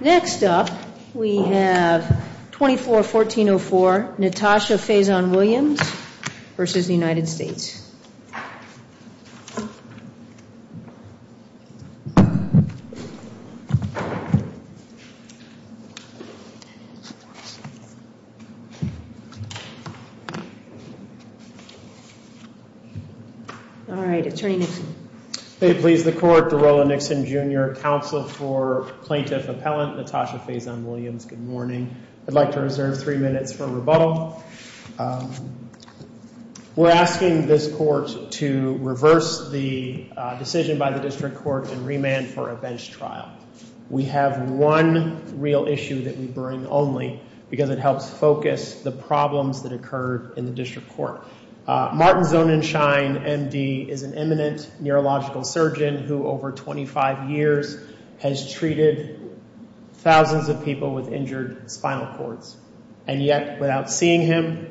Next up, we have 24-1404, Natasha Faison-Williams v. United States. All right, Attorney Nixon. May it please the Court, Dorola Nixon, Jr., Counsel for Plaintiff Appellant Natasha Faison-Williams, good morning. I'd like to reserve three minutes for rebuttal. We're asking this Court to reverse the decision by the District Court and remand for a bench trial. We have one real issue that we bring only because it helps focus the problems that occurred in the District Court. Martin Zonenshine, M.D., is an eminent neurological surgeon who over 25 years has treated thousands of people with injured spinal cords. And yet, without seeing him,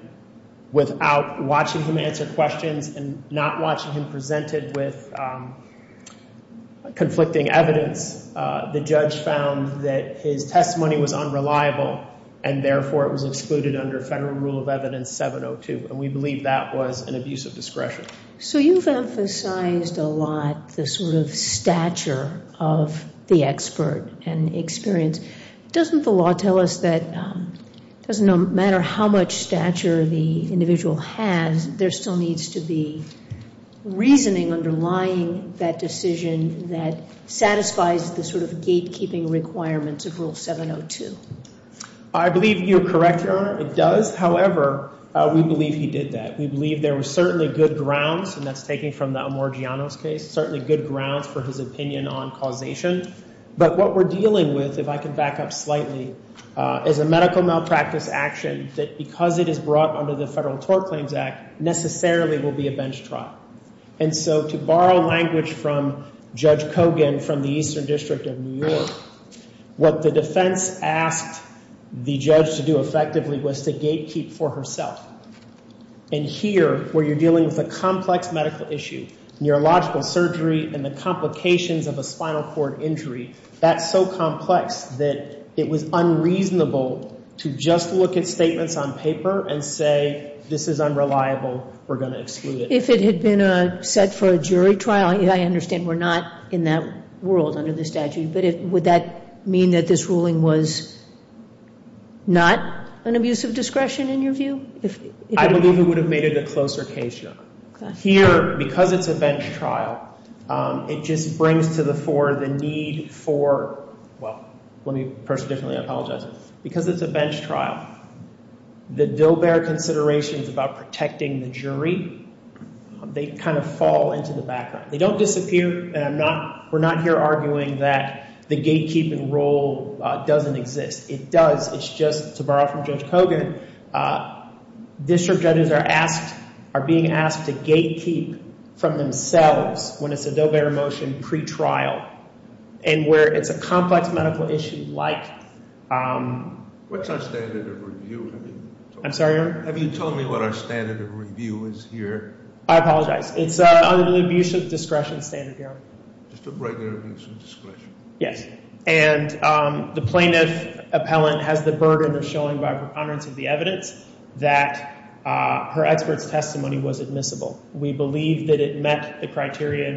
without watching him answer questions, and not watching him presented with conflicting evidence, the judge found that his testimony was unreliable, and therefore it was excluded under Federal Rule of Evidence 702. And we believe that was an abuse of discretion. So you've emphasized a lot the sort of stature of the expert and experience. Doesn't the law tell us that it doesn't matter how much stature the individual has, there still needs to be reasoning underlying that decision that satisfies the sort of gatekeeping requirements of Rule 702? I believe you're correct, Your Honor. It does. However, we believe he did that. We believe there were certainly good grounds, and that's taken from the Amorgianos case, certainly good grounds for his opinion on causation. But what we're dealing with, if I can back up slightly, is a medical malpractice action that, because it is brought under the Federal Tort Claims Act, necessarily will be a bench trial. And so to borrow language from Judge Kogan from the Eastern District of New York, what the defense asked the judge to do effectively was to gatekeep for herself. And here, where you're dealing with a complex medical issue, neurological surgery and the complications of a spinal cord injury, that's so complex that it was unreasonable to just look at statements on paper and say, this is unreliable, we're going to exclude it. If it had been set for a jury trial, I understand we're not in that world under the statute, but would that mean that this ruling was not an abuse of discretion, in your view? I believe it would have made it a closer case, Your Honor. Here, because it's a bench trial, it just brings to the fore the need for, well, let me personally apologize. Because it's a bench trial, the Dillbear considerations about protecting the jury, they kind of fall into the background. They don't disappear, and we're not here arguing that the gatekeeping role doesn't exist. It does. It's just, to borrow from Judge Kogan, district judges are being asked to gatekeep from themselves when it's a Dillbear motion pre-trial. And where it's a complex medical issue like- What's our standard of review? I'm sorry, Your Honor? Have you told me what our standard of review is here? I apologize. It's under the abuse of discretion standard, Your Honor. Just a regular abuse of discretion. Yes. And the plaintiff appellant has the burden of showing by preponderance of the evidence that her expert's testimony was admissible. We believe that it met the criteria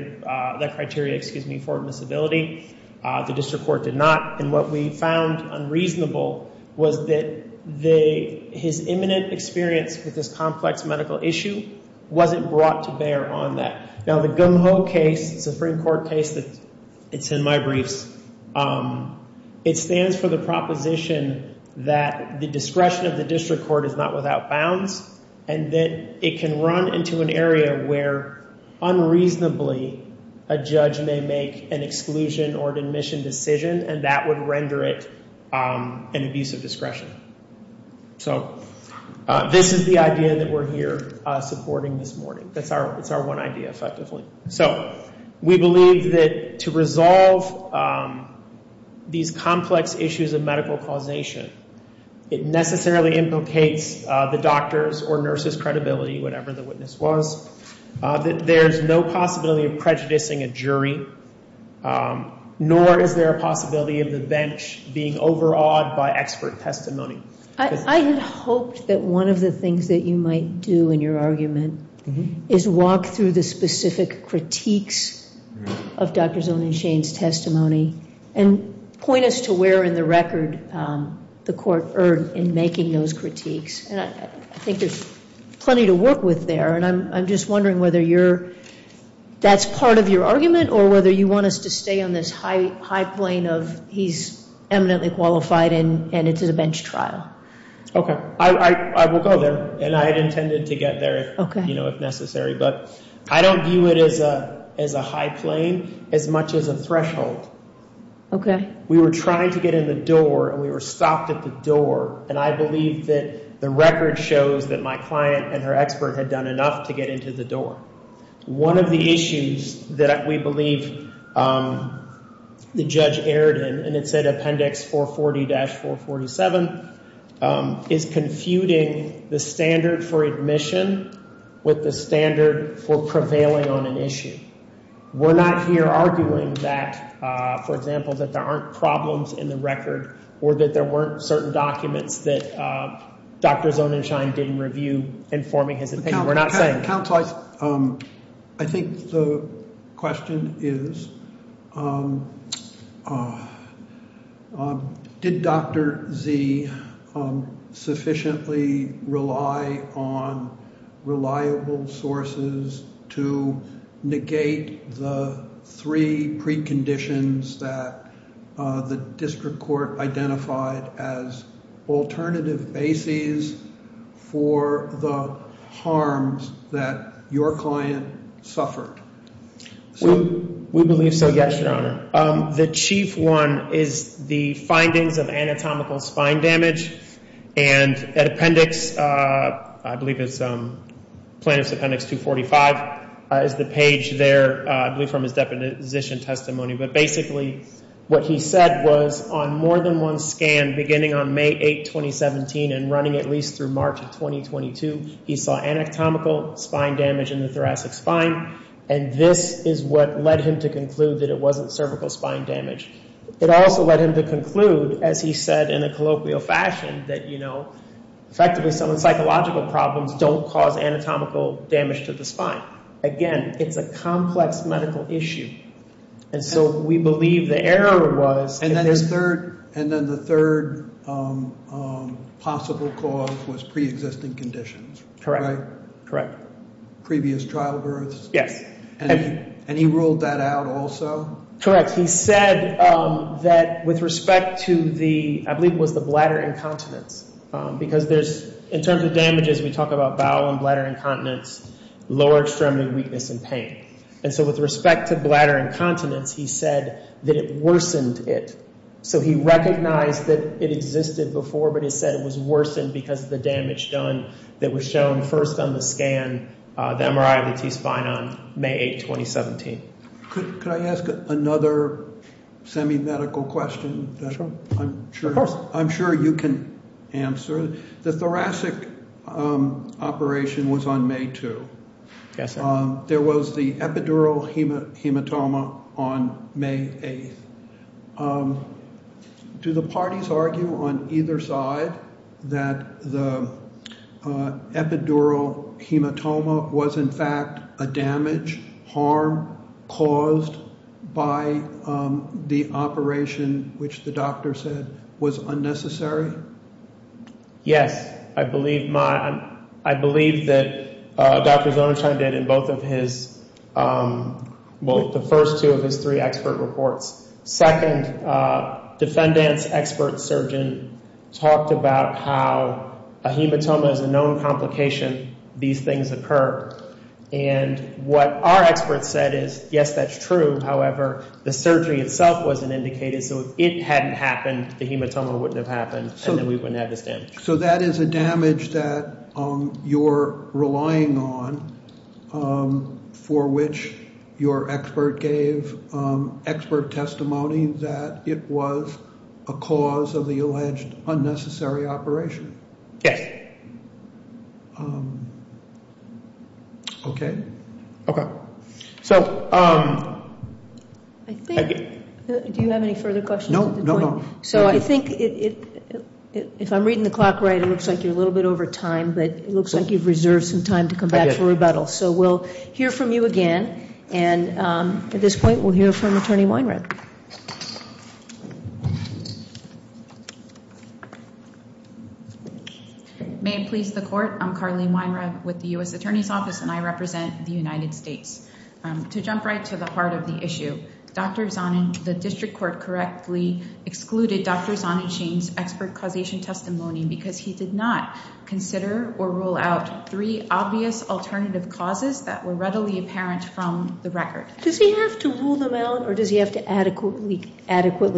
for admissibility. The district court did not. And what we found unreasonable was that his imminent experience with this complex medical issue wasn't brought to bear on that. Now, the Gung Ho case, Supreme Court case that's in my briefs, it stands for the proposition that the discretion of the district court is not without bounds. And that it can run into an area where, unreasonably, a judge may make an exclusion or admission decision, and that would render it an abuse of discretion. So, this is the idea that we're here supporting this morning. It's our one idea, effectively. So, we believe that to resolve these complex issues of medical causation, it necessarily implicates the doctor's or nurse's credibility, whatever the witness was. There's no possibility of prejudicing a jury, nor is there a possibility of the bench being overawed by expert testimony. I had hoped that one of the things that you might do in your argument is walk through the specific critiques of Dr. Zoning Shane's testimony, and point us to where in the record the court erred in making those critiques. And I think there's plenty to work with there, and I'm just wondering whether that's part of your argument, or whether you want us to stay on this high plane of he's eminently qualified and it's a bench trial. Okay. I will go there, and I had intended to get there, you know, if necessary. But I don't view it as a high plane as much as a threshold. Okay. We were trying to get in the door, and we were stopped at the door. And I believe that the record shows that my client and her expert had done enough to get into the door. One of the issues that we believe the judge erred in, and it said Appendix 440-447, is confuting the standard for admission with the standard for prevailing on an issue. We're not here arguing that, for example, that there aren't problems in the record, or that there weren't certain documents that Dr. Zoning Shane didn't review informing his opinion. We're not saying that. I think the question is did Dr. Z sufficiently rely on reliable sources to negate the three preconditions that the district court identified as alternative bases for the harms that your client suffered? We believe so, yes, Your Honor. The chief one is the findings of anatomical spine damage, and at Appendix, I believe it's plaintiff's Appendix 245 is the page there, I believe from his deposition testimony. But basically what he said was on more than one scan, beginning on May 8, 2017, and running at least through March of 2022, he saw anatomical spine damage in the thoracic spine, and this is what led him to conclude that it wasn't cervical spine damage. It also led him to conclude, as he said in a colloquial fashion, that effectively some of the psychological problems don't cause anatomical damage to the spine. Again, it's a complex medical issue. And so we believe the error was that there's- And then the third possible cause was preexisting conditions. Correct. Right? Correct. Previous trial births. Yes. And he ruled that out also? Correct. He said that with respect to the, I believe it was the bladder incontinence, because there's- In terms of damages, we talk about bowel and bladder incontinence, lower extremity weakness, and pain. And so with respect to bladder incontinence, he said that it worsened it. So he recognized that it existed before, but he said it was worsened because of the damage done that was shown first on the scan, the MRI of the T-spine on May 8, 2017. Could I ask another semi-medical question? Sure. I'm sure you can answer. The thoracic operation was on May 2. Yes, sir. There was the epidural hematoma on May 8. Do the parties argue on either side that the epidural hematoma was in fact a damage, harm caused by the operation, which the doctor said was unnecessary? Yes. I believe that Dr. Zonersheim did in both of his, well, the first two of his three expert reports. Second, defendant's expert surgeon talked about how a hematoma is a known complication. These things occur. And what our expert said is, yes, that's true. However, the surgery itself wasn't indicated. So if it hadn't happened, the hematoma wouldn't have happened, and then we wouldn't have this damage. So that is a damage that you're relying on for which your expert gave expert testimony that it was a cause of the alleged unnecessary operation? Yes. Okay. Okay. So I think do you have any further questions? No, no, no. So I think if I'm reading the clock right, it looks like you're a little bit over time, but it looks like you've reserved some time to come back for rebuttal. So we'll hear from you again, and at this point we'll hear from Attorney Weinreb. May it please the Court. I'm Carleen Weinreb with the U.S. Attorney's Office, and I represent the United States. To jump right to the heart of the issue, Dr. Zonin, the district court, correctly excluded Dr. Zonin Shane's expert causation testimony because he did not consider or rule out three obvious alternative causes that were readily apparent from the record. Does he have to rule them out, or does he have to adequately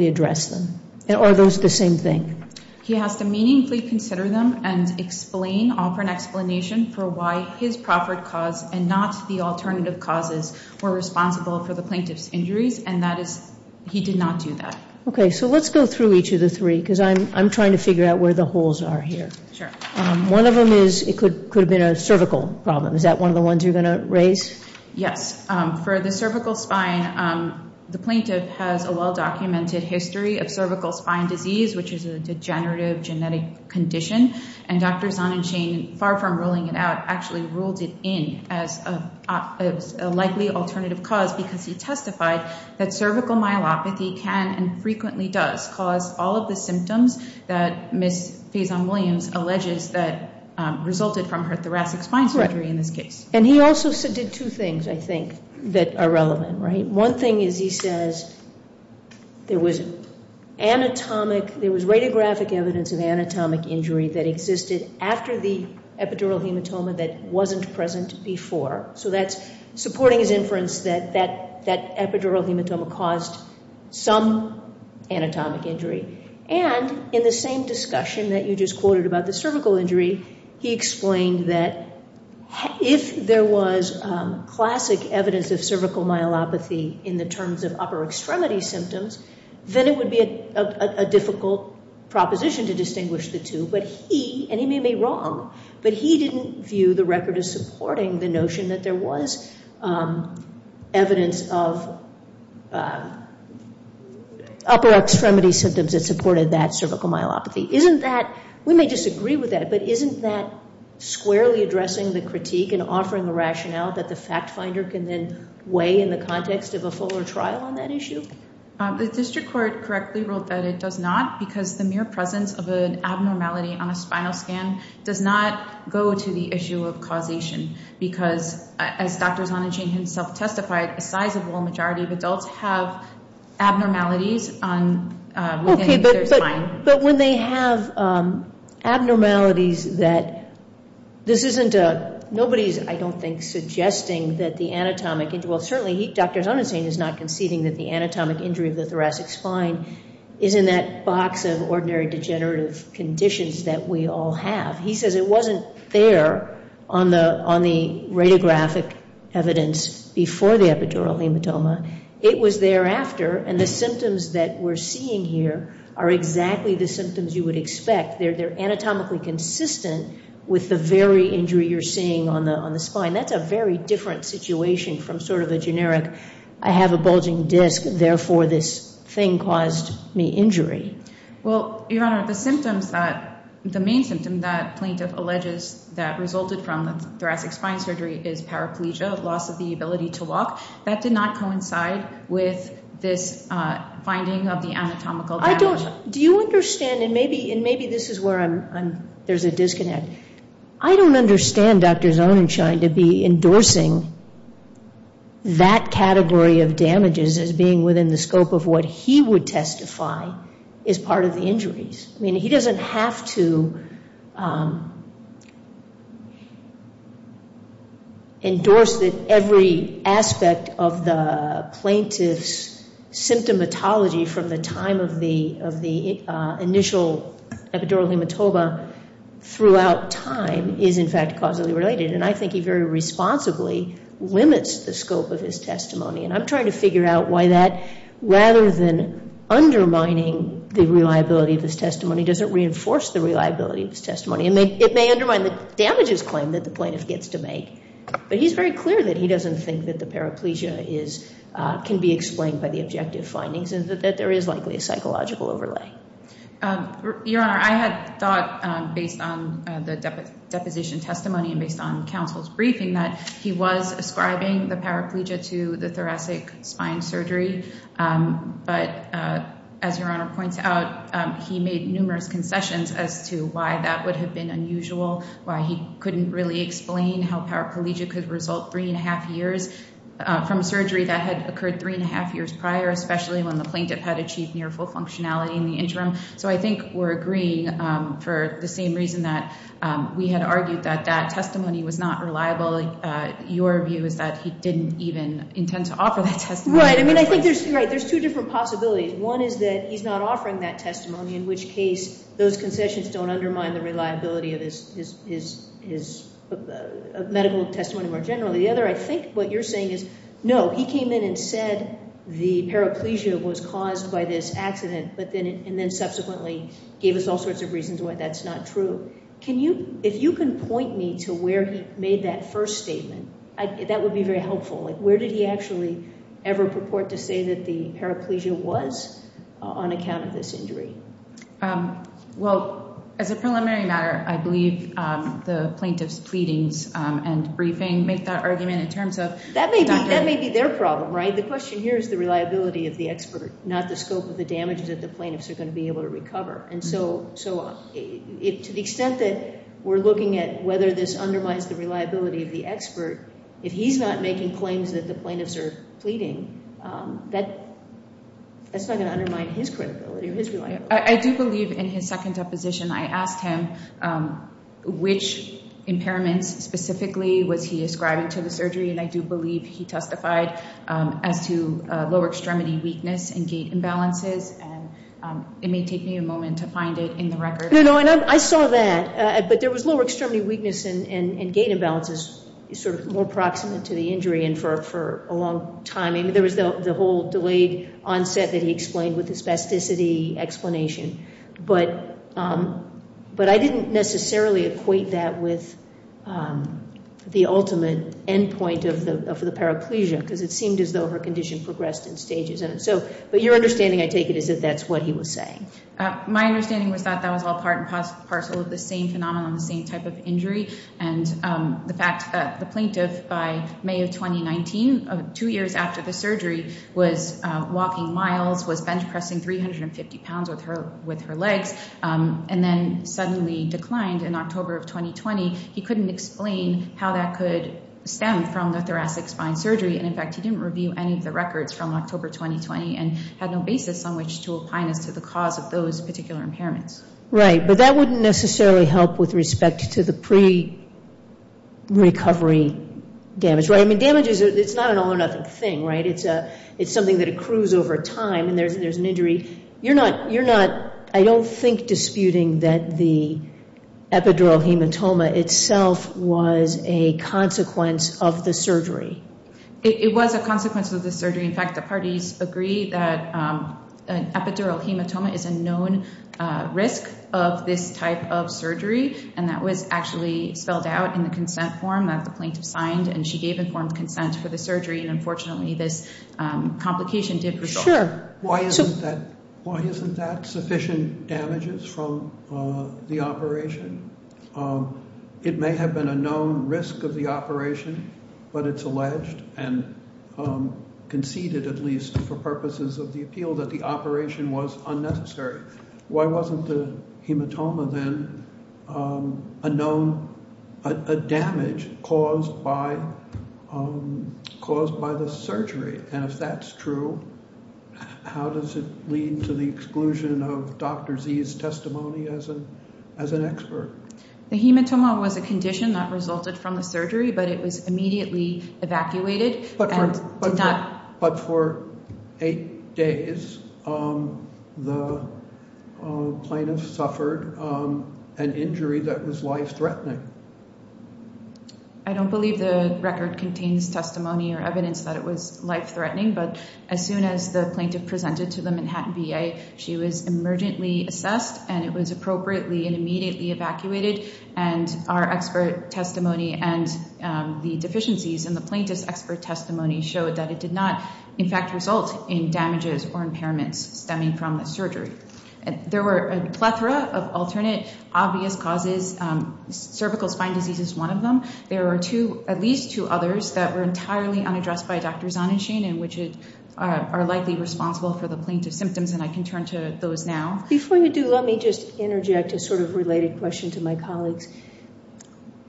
address them? Or are those the same thing? He has to meaningfully consider them and explain, offer an explanation for why his proffered cause and not the alternative causes were responsible for the plaintiff's injuries, and that is he did not do that. Okay. So let's go through each of the three because I'm trying to figure out where the holes are here. Sure. One of them is it could have been a cervical problem. Is that one of the ones you're going to raise? Yes. For the cervical spine, the plaintiff has a well-documented history of cervical spine disease, which is a degenerative genetic condition, and Dr. Zonin Shane, far from ruling it out, actually ruled it in as a likely alternative cause because he testified that cervical myelopathy can and frequently does cause all of the symptoms that Ms. Faison-Williams alleges that resulted from her thoracic spine surgery in this case. Right. And he also did two things, I think, that are relevant, right? One thing is he says there was radiographic evidence of anatomic injury that existed after the epidural hematoma that wasn't present before. So that's supporting his inference that that epidural hematoma caused some anatomic injury. And in the same discussion that you just quoted about the cervical injury, he explained that if there was classic evidence of cervical myelopathy in the terms of upper extremity symptoms, then it would be a difficult proposition to distinguish the two. But he, and he may be wrong, but he didn't view the record as supporting the notion that there was evidence of upper extremity symptoms that supported that cervical myelopathy. Isn't that, we may disagree with that, but isn't that squarely addressing the critique and offering a rationale that the fact finder can then weigh in the context of a fuller trial on that issue? The district court correctly wrote that it does not because the mere presence of an abnormality on a spinal scan does not go to the issue of causation because, as Dr. Zonachain himself testified, a sizable majority of adults have abnormalities within their spine. But when they have abnormalities that this isn't a, nobody's, I don't think, suggesting that the anatomic, well certainly Dr. Zonachain is not conceding that the anatomic injury of the thoracic spine is in that box of ordinary degenerative conditions that we all have. He says it wasn't there on the radiographic evidence before the epidural hematoma. It was thereafter, and the symptoms that we're seeing here are exactly the symptoms you would expect. They're anatomically consistent with the very injury you're seeing on the spine. That's a very different situation from sort of a generic, I have a bulging disc, therefore this thing caused me injury. Well, Your Honor, the symptoms that, the main symptom that plaintiff alleges that resulted from thoracic spine surgery is paraplegia, loss of the ability to walk. That did not coincide with this finding of the anatomical damage. I don't, do you understand, and maybe this is where I'm, there's a disconnect. I don't understand Dr. Zonachain to be endorsing that category of damages as being within the scope of what he would testify is part of the injuries. I mean, he doesn't have to endorse that every aspect of the plaintiff's symptomatology from the time of the initial epidural hematoma throughout time is in fact causally related. And I think he very responsibly limits the scope of his testimony. And I'm trying to figure out why that, rather than undermining the reliability of his testimony, does it reinforce the reliability of his testimony? And it may undermine the damages claim that the plaintiff gets to make. But he's very clear that he doesn't think that the paraplegia is, can be explained by the objective findings and that there is likely a psychological overlay. Your Honor, I had thought based on the deposition testimony and based on counsel's briefing that he was ascribing the paraplegia to the thoracic spine surgery. But as Your Honor points out, he made numerous concessions as to why that would have been unusual, why he couldn't really explain how paraplegia could result three and a half years from surgery that had occurred three and a half years prior, especially when the plaintiff had achieved near full functionality in the interim. So I think we're agreeing for the same reason that we had argued that that testimony was not reliable. Your view is that he didn't even intend to offer that testimony. Right. I mean, I think there's two different possibilities. One is that he's not offering that testimony, in which case those concessions don't undermine the reliability of his medical testimony more generally. The other, I think what you're saying is, no, he came in and said the paraplegia was caused by this accident and then subsequently gave us all sorts of reasons why that's not true. If you can point me to where he made that first statement, that would be very helpful. Where did he actually ever purport to say that the paraplegia was on account of this injury? Well, as a preliminary matter, I believe the plaintiff's pleadings and briefing make that argument in terms of— That may be their problem, right? The question here is the reliability of the expert, not the scope of the damage that the plaintiffs are going to be able to recover. And so to the extent that we're looking at whether this undermines the reliability of the expert, if he's not making claims that the plaintiffs are pleading, that's not going to undermine his credibility or his reliability. I do believe in his second deposition I asked him which impairments specifically was he ascribing to the surgery, and I do believe he testified as to lower extremity weakness and gait imbalances. And it may take me a moment to find it in the record. No, no, and I saw that. But there was lower extremity weakness and gait imbalances sort of more proximate to the injury and for a long time. I mean, there was the whole delayed onset that he explained with his spasticity explanation. But I didn't necessarily equate that with the ultimate endpoint of the paraplegia because it seemed as though her condition progressed in stages. But your understanding, I take it, is that that's what he was saying. My understanding was that that was all part and parcel of the same phenomenon, the same type of injury. And the fact that the plaintiff by May of 2019, two years after the surgery, was walking miles, was bench pressing 350 pounds with her legs, and then suddenly declined in October of 2020, he couldn't explain how that could stem from the thoracic spine surgery. And, in fact, he didn't review any of the records from October 2020 and had no basis on which to opine as to the cause of those particular impairments. Right, but that wouldn't necessarily help with respect to the pre-recovery damage, right? I mean, damage is not an all or nothing thing, right? It's something that accrues over time, and there's an injury. You're not, I don't think, disputing that the epidural hematoma itself was a consequence of the surgery. It was a consequence of the surgery. In fact, the parties agreed that an epidural hematoma is a known risk of this type of surgery, and that was actually spelled out in the consent form that the plaintiff signed, and she gave informed consent for the surgery. And, unfortunately, this complication did persist. Sure. Why isn't that sufficient damages from the operation? It may have been a known risk of the operation, but it's alleged, and conceded at least for purposes of the appeal, that the operation was unnecessary. Why wasn't the hematoma then a known damage caused by the surgery? And if that's true, how does it lead to the exclusion of Dr. Z's testimony as an expert? The hematoma was a condition that resulted from the surgery, but it was immediately evacuated. But for eight days, the plaintiff suffered an injury that was life-threatening. I don't believe the record contains testimony or evidence that it was life-threatening, but as soon as the plaintiff presented to the Manhattan VA, she was emergently assessed, and it was appropriately and immediately evacuated. And our expert testimony and the deficiencies in the plaintiff's expert testimony showed that it did not, in fact, result in damages or impairments stemming from the surgery. There were a plethora of alternate obvious causes. Cervical spine disease is one of them. There are at least two others that were entirely unaddressed by Dr. Zahn and Shane and which are likely responsible for the plaintiff's symptoms, and I can turn to those now. Before you do, let me just interject a sort of related question to my colleagues.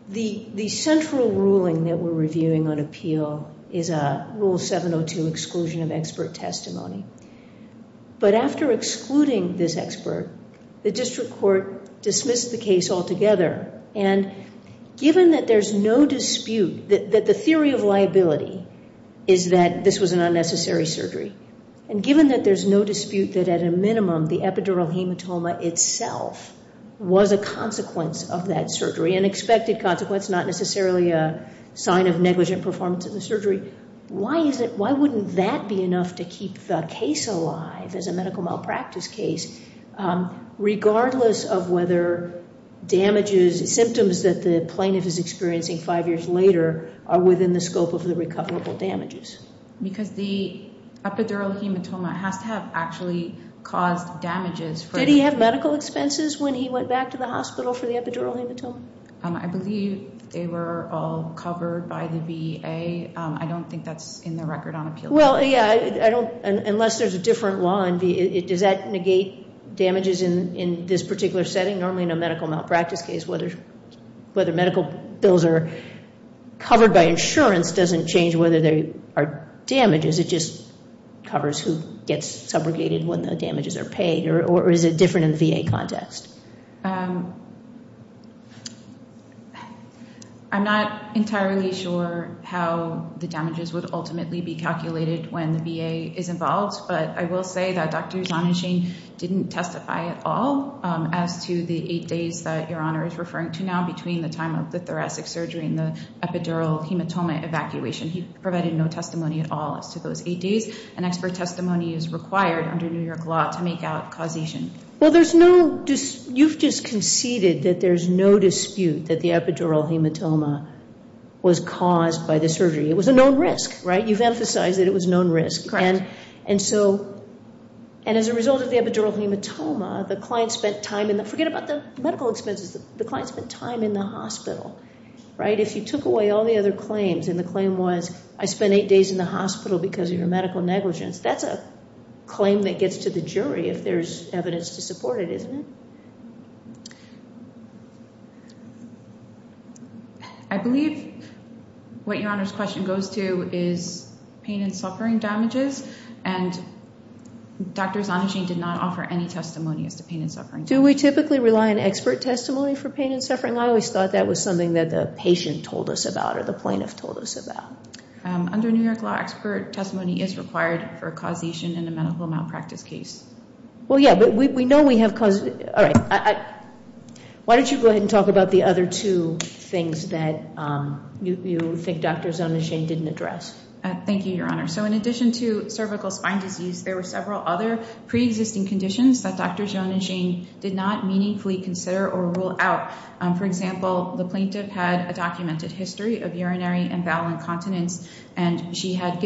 The central ruling that we're reviewing on appeal is Rule 702, exclusion of expert testimony. But after excluding this expert, the district court dismissed the case altogether, and given that there's no dispute that the theory of liability is that this was an unnecessary surgery, and given that there's no dispute that, at a minimum, the epidural hematoma itself was a consequence of that surgery, an expected consequence, not necessarily a sign of negligent performance of the surgery, why wouldn't that be enough to keep the case alive as a medical malpractice case, regardless of whether symptoms that the plaintiff is experiencing five years later are within the scope of the recoverable damages? Because the epidural hematoma has to have actually caused damages. Did he have medical expenses when he went back to the hospital for the epidural hematoma? I believe they were all covered by the VA. I don't think that's in the record on appeal. Well, yeah, unless there's a different law, does that negate damages in this particular setting? Normally in a medical malpractice case, whether medical bills are covered by insurance doesn't change whether there are damages. It just covers who gets subrogated when the damages are paid, or is it different in the VA context? I'm not entirely sure how the damages would ultimately be calculated when the VA is involved, but I will say that Dr. Zahn and Shane didn't testify at all as to the eight days that Your Honor is referring to now between the time of the thoracic surgery and the epidural hematoma evacuation. He provided no testimony at all as to those eight days, and expert testimony is required under New York law to make out causation. Well, you've just conceded that there's no dispute that the epidural hematoma was caused by the surgery. It was a known risk, right? You've emphasized that it was a known risk. And as a result of the epidural hematoma, the client spent time in the hospital. If you took away all the other claims, and the claim was, I spent eight days in the hospital because of your medical negligence, that's a claim that gets to the jury if there's evidence to support it, isn't it? I believe what Your Honor's question goes to is pain and suffering damages, and Dr. Zahn and Shane did not offer any testimony as to pain and suffering. Do we typically rely on expert testimony for pain and suffering? I always thought that was something that the patient told us about or the plaintiff told us about. Under New York law, expert testimony is required for causation in a medical malpractice case. Well, yeah, but we know we have causation. Why don't you go ahead and talk about the other two things that you think Dr. Zahn and Shane didn't address? Thank you, Your Honor. So in addition to cervical spine disease, there were several other preexisting conditions that Dr. Zahn and Shane did not meaningfully consider or rule out. For example, the plaintiff had a documented history of urinary and bowel incontinence, and she had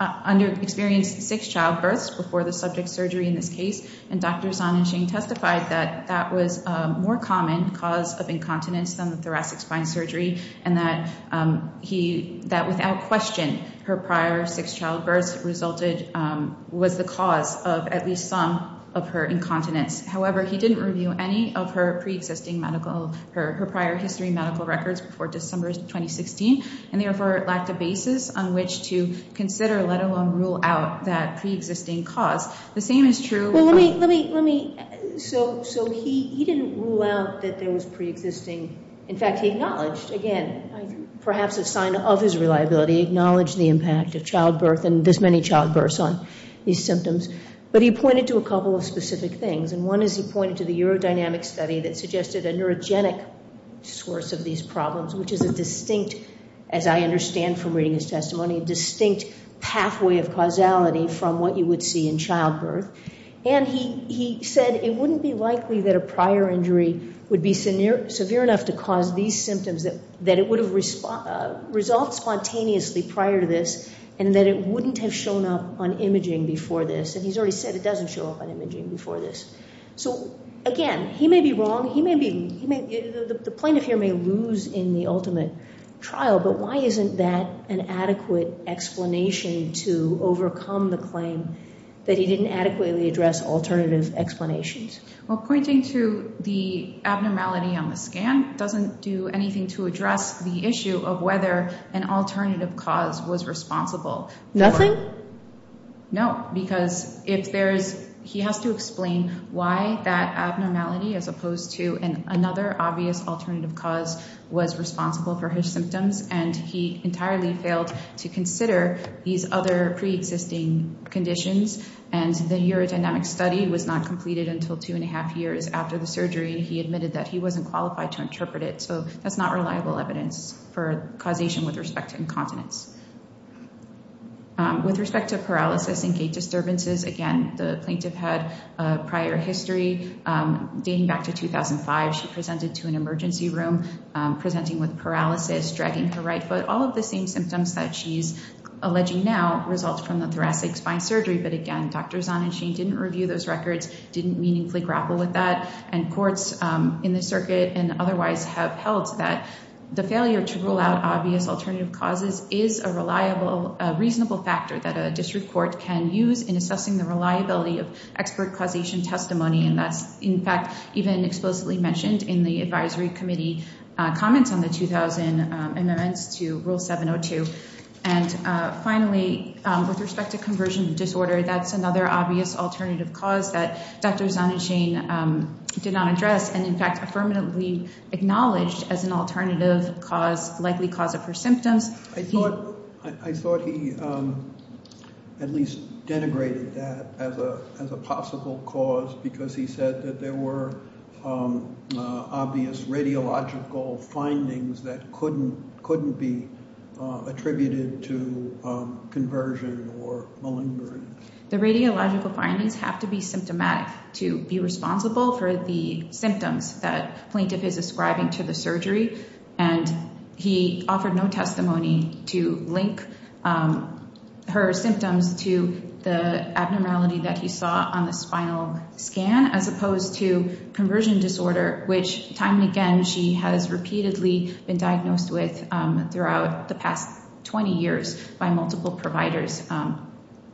under-experienced six childbirths before the subject surgery in this case, and Dr. Zahn and Shane testified that that was a more common cause of incontinence than thoracic spine surgery, and that without question, her prior six childbirths was the cause of at least some of her incontinence. However, he didn't review any of her preexisting medical, her prior history medical records before December 2016, and therefore lacked a basis on which to consider, let alone rule out, that preexisting cause. The same is true. Well, let me, let me, let me. So he didn't rule out that there was preexisting. In fact, he acknowledged, again, perhaps a sign of his reliability, acknowledged the impact of childbirth and this many childbirths on these symptoms, but he pointed to a couple of specific things, and one is he pointed to the urodynamic study that suggested a neurogenic source of these problems, which is a distinct, as I understand from reading his testimony, a distinct pathway of causality from what you would see in childbirth, and he said it wouldn't be likely that a prior injury would be severe enough to cause these symptoms, that it would have resulted spontaneously prior to this, and that it wouldn't have shown up on imaging before this. And he's already said it doesn't show up on imaging before this. So, again, he may be wrong. He may be, the plaintiff here may lose in the ultimate trial, but why isn't that an adequate explanation to overcome the claim that he didn't adequately address alternative explanations? Well, pointing to the abnormality on the scan doesn't do anything to address the issue of whether an alternative cause was responsible. Nothing? No, because if there's, he has to explain why that abnormality, as opposed to another obvious alternative cause, was responsible for his symptoms, and he entirely failed to consider these other preexisting conditions, and the urodynamic study was not completed until two and a half years after the surgery. He admitted that he wasn't qualified to interpret it, so that's not reliable evidence for causation with respect to incontinence. With respect to paralysis and gait disturbances, again, the plaintiff had a prior history dating back to 2005. She presented to an emergency room presenting with paralysis, dragging her right foot. All of the same symptoms that she's alleging now result from the thoracic spine surgery, but, again, Dr. Zahn and Shane didn't review those records, didn't meaningfully grapple with that, and courts in the circuit and otherwise have held that the failure to rule out obvious alternative causes is a reasonable factor that a district court can use in assessing the reliability of expert causation testimony, and that's, in fact, even explicitly mentioned in the advisory committee comments on the 2000 amendments to Rule 702. And, finally, with respect to conversion disorder, that's another obvious alternative cause that Dr. Zahn and Shane did not address, and, in fact, affirmatively acknowledged as an alternative likely cause of her symptoms. I thought he at least denigrated that as a possible cause because he said that there were obvious radiological findings that couldn't be attributed to conversion or malingering. The radiological findings have to be symptomatic to be responsible for the symptoms that plaintiff is ascribing to the surgery, and he offered no testimony to link her symptoms to the abnormality that he saw on the spinal scan as opposed to conversion disorder, which, time and again, she has repeatedly been diagnosed with throughout the past 20 years by multiple providers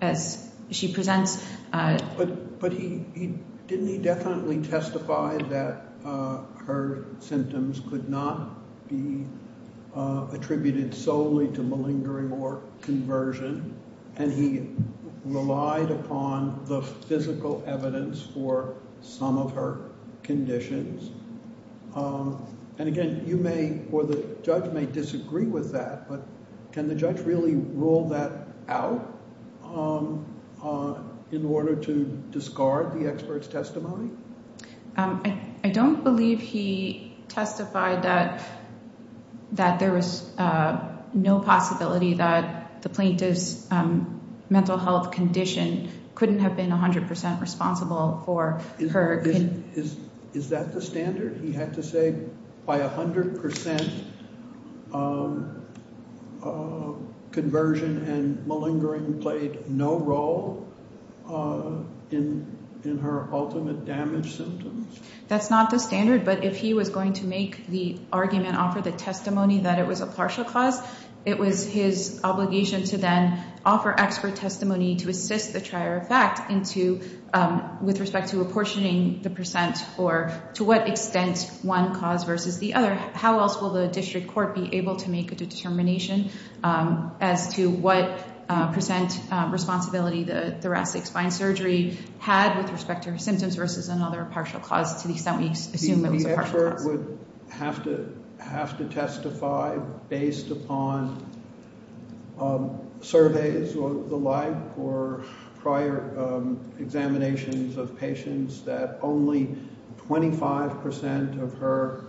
as she presents. But didn't he definitely testify that her symptoms could not be attributed solely to malingering or conversion, and he relied upon the physical evidence for some of her conditions? And, again, you may or the judge may disagree with that, but can the judge really rule that out in order to discard the expert's testimony? I don't believe he testified that there was no possibility that the plaintiff's mental health condition couldn't have been 100% responsible for her condition. And is that the standard? He had to say by 100% conversion and malingering played no role in her ultimate damage symptoms? That's not the standard, but if he was going to make the argument, offer the testimony that it was a partial cause, it was his obligation to then offer expert testimony to assist the trier of fact with respect to apportioning the percent or to what extent one cause versus the other. How else will the district court be able to make a determination as to what percent responsibility the thoracic spine surgery had with respect to her symptoms versus another partial cause to the extent we assume it was a partial cause? The court would have to testify based upon surveys or the like or prior examinations of patients that only 25% of her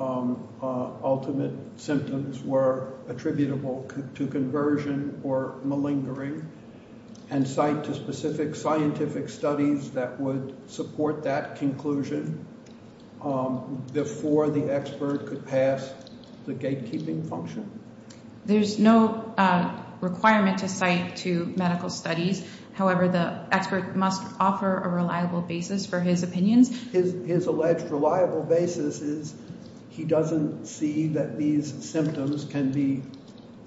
ultimate symptoms were attributable to conversion or malingering and cite to specific scientific studies that would support that conclusion before the expert could pass the gatekeeping function. There's no requirement to cite to medical studies. However, the expert must offer a reliable basis for his opinions. His alleged reliable basis is he doesn't see that these symptoms can be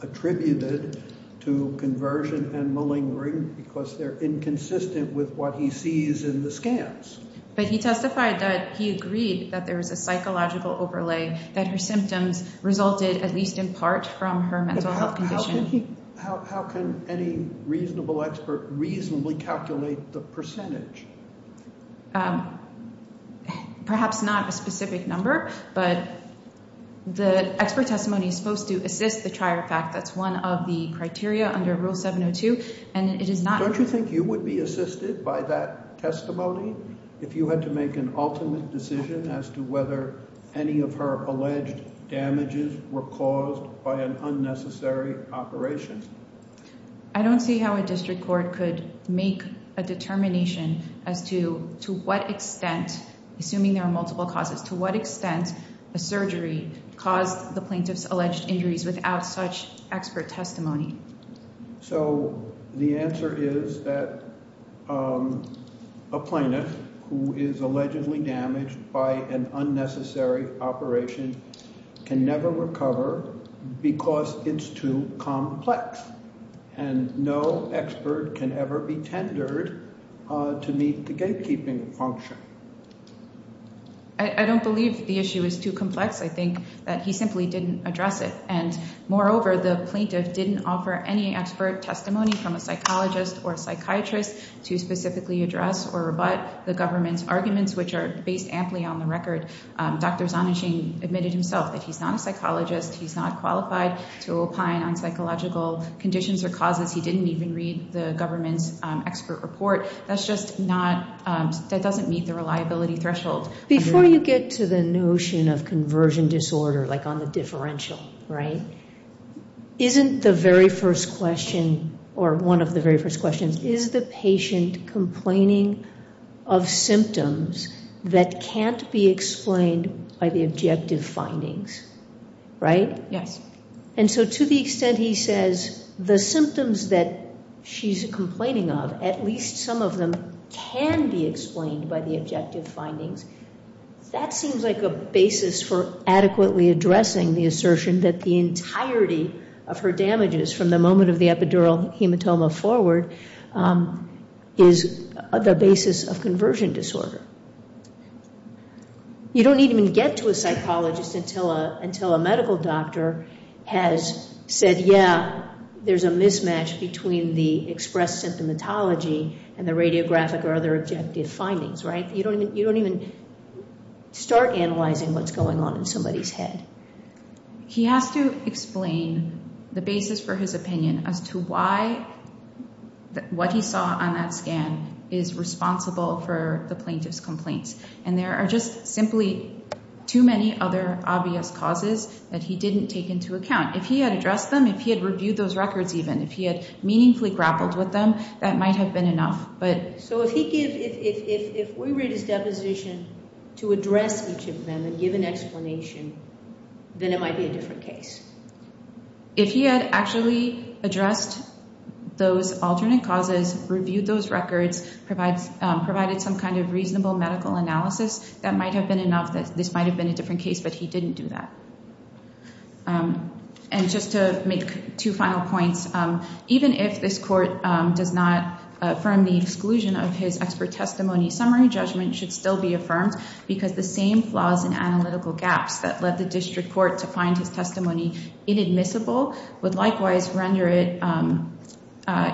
attributed to conversion and malingering because they're inconsistent with what he sees in the scans. But he testified that he agreed that there was a psychological overlay that her symptoms resulted at least in part from her mental health condition. How can any reasonable expert reasonably calculate the percentage? Perhaps not a specific number, but the expert testimony is supposed to assist the trier fact. That's one of the criteria under Rule 702. Don't you think you would be assisted by that testimony if you had to make an ultimate decision as to whether any of her alleged damages were caused by an unnecessary operation? I don't see how a district court could make a determination as to what extent, assuming there are multiple causes, to what extent a surgery caused the plaintiff's alleged injuries without such expert testimony. So the answer is that a plaintiff who is allegedly damaged by an unnecessary operation can never recover because it's too complex. And no expert can ever be tendered to meet the gatekeeping function. I don't believe the issue is too complex. I think that he simply didn't address it. And moreover, the plaintiff didn't offer any expert testimony from a psychologist or psychiatrist to specifically address or rebut the government's arguments, which are based amply on the record. Dr. Zonachin admitted himself that he's not a psychologist. He's not qualified to opine on psychological conditions or causes. He didn't even read the government's expert report. That doesn't meet the reliability threshold. Before you get to the notion of conversion disorder, like on the differential, right, isn't the very first question or one of the very first questions, is the patient complaining of symptoms that can't be explained by the objective findings, right? Yes. And so to the extent he says the symptoms that she's complaining of, at least some of them can be explained by the objective findings, that seems like a basis for adequately addressing the assertion that the entirety of her damages from the moment of the epidural hematoma forward is the basis of conversion disorder. You don't even get to a psychologist until a medical doctor has said, yeah, there's a mismatch between the expressed symptomatology and the radiographic or other objective findings, right? You don't even start analyzing what's going on in somebody's head. He has to explain the basis for his opinion as to why what he saw on that scan is responsible for the plaintiff's complaints. And there are just simply too many other obvious causes that he didn't take into account. If he had addressed them, if he had reviewed those records even, if he had meaningfully grappled with them, that might have been enough. So if we read his deposition to address each of them and give an explanation, then it might be a different case. If he had actually addressed those alternate causes, reviewed those records, provided some kind of reasonable medical analysis, that might have been enough. This might have been a different case, but he didn't do that. And just to make two final points, even if this court does not affirm the exclusion of his expert testimony, summary judgment should still be affirmed because the same flaws and analytical gaps that led the district court to find his testimony inadmissible would likewise render it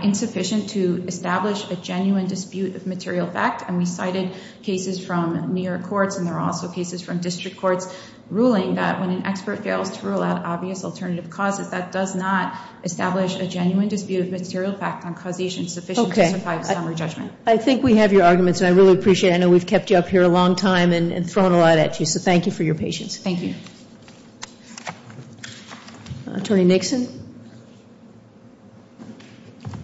insufficient to establish a genuine dispute of material fact. And we cited cases from near courts, and there are also cases from district courts, ruling that when an expert fails to rule out obvious alternative causes, that does not establish a genuine dispute of material fact on causation sufficient to survive a summary judgment. Okay. I think we have your arguments, and I really appreciate it. I know we've kept you up here a long time and thrown a lot at you, so thank you for your patience. Thank you. Attorney Nixon.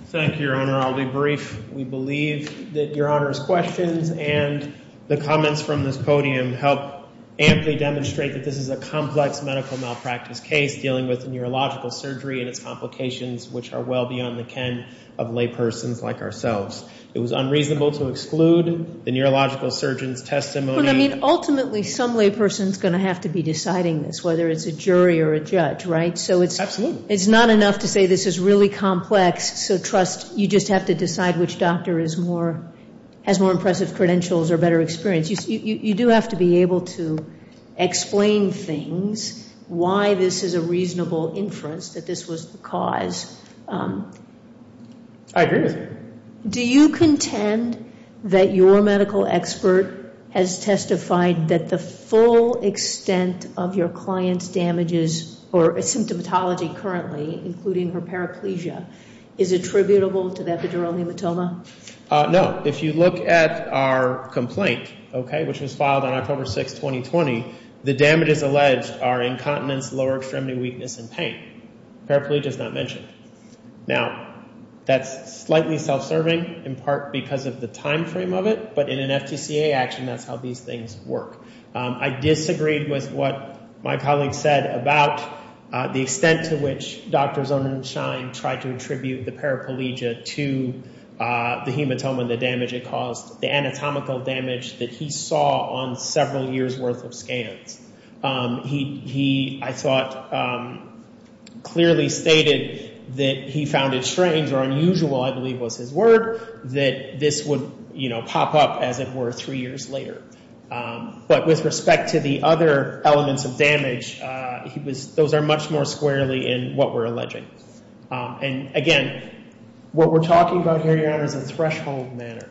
Thank you, Your Honor. I'll be brief. We believe that Your Honor's questions and the comments from this podium help amply demonstrate that this is a complex medical malpractice case dealing with neurological surgery and its complications, which are well beyond the ken of laypersons like ourselves. It was unreasonable to exclude the neurological surgeon's testimony. Ultimately, some layperson is going to have to be deciding this, whether it's a jury or a judge, right? Absolutely. It's not enough to say this is really complex, so trust you just have to decide which doctor has more impressive credentials or better experience. You do have to be able to explain things, why this is a reasonable inference that this was the cause. I agree with you. Do you contend that your medical expert has testified that the full extent of your client's damages or symptomatology currently, including her paraplegia, is attributable to the epidural hematoma? No. If you look at our complaint, okay, which was filed on October 6, 2020, the damages alleged are incontinence, lower extremity weakness, and pain. Paraplegia is not mentioned. Now, that's slightly self-serving in part because of the time frame of it, but in an FTCA action, that's how these things work. I disagreed with what my colleague said about the extent to which Dr. Zonenshine tried to attribute the paraplegia to the hematoma and the damage it caused, the anatomical damage that he saw on several years' worth of scans. He, I thought, clearly stated that he found it strange or unusual, I believe was his word, that this would pop up, as it were, three years later. But with respect to the other elements of damage, those are much more squarely in what we're alleging. And again, what we're talking about here, Your Honor, is a threshold matter.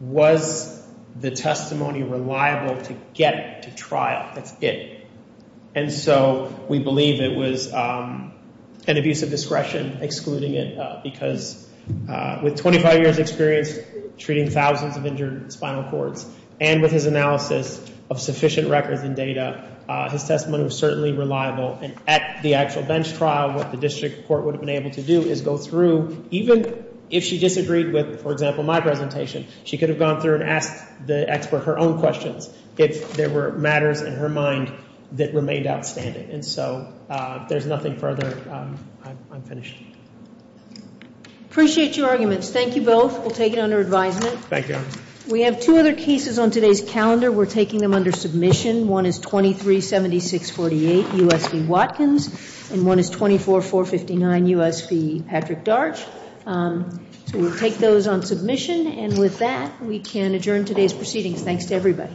Was the testimony reliable to get to trial? That's it. And so we believe it was an abuse of discretion, excluding it, because with 25 years' experience treating thousands of injured spinal cords, and with his analysis of sufficient records and data, his testimony was certainly reliable. And at the actual bench trial, what the district court would have been able to do is go through, even if she disagreed with, for example, my presentation, she could have gone through and asked the expert her own questions if there were matters in her mind that remained outstanding. And so if there's nothing further, I'm finished. Appreciate your arguments. Thank you both. We'll take it under advisement. Thank you, Your Honor. We have two other cases on today's calendar. We're taking them under submission. One is 237648, U.S. v. Watkins, and one is 24459, U.S. v. Patrick Darch. So we'll take those on submission. And with that, we can adjourn today's proceedings. Thanks to everybody.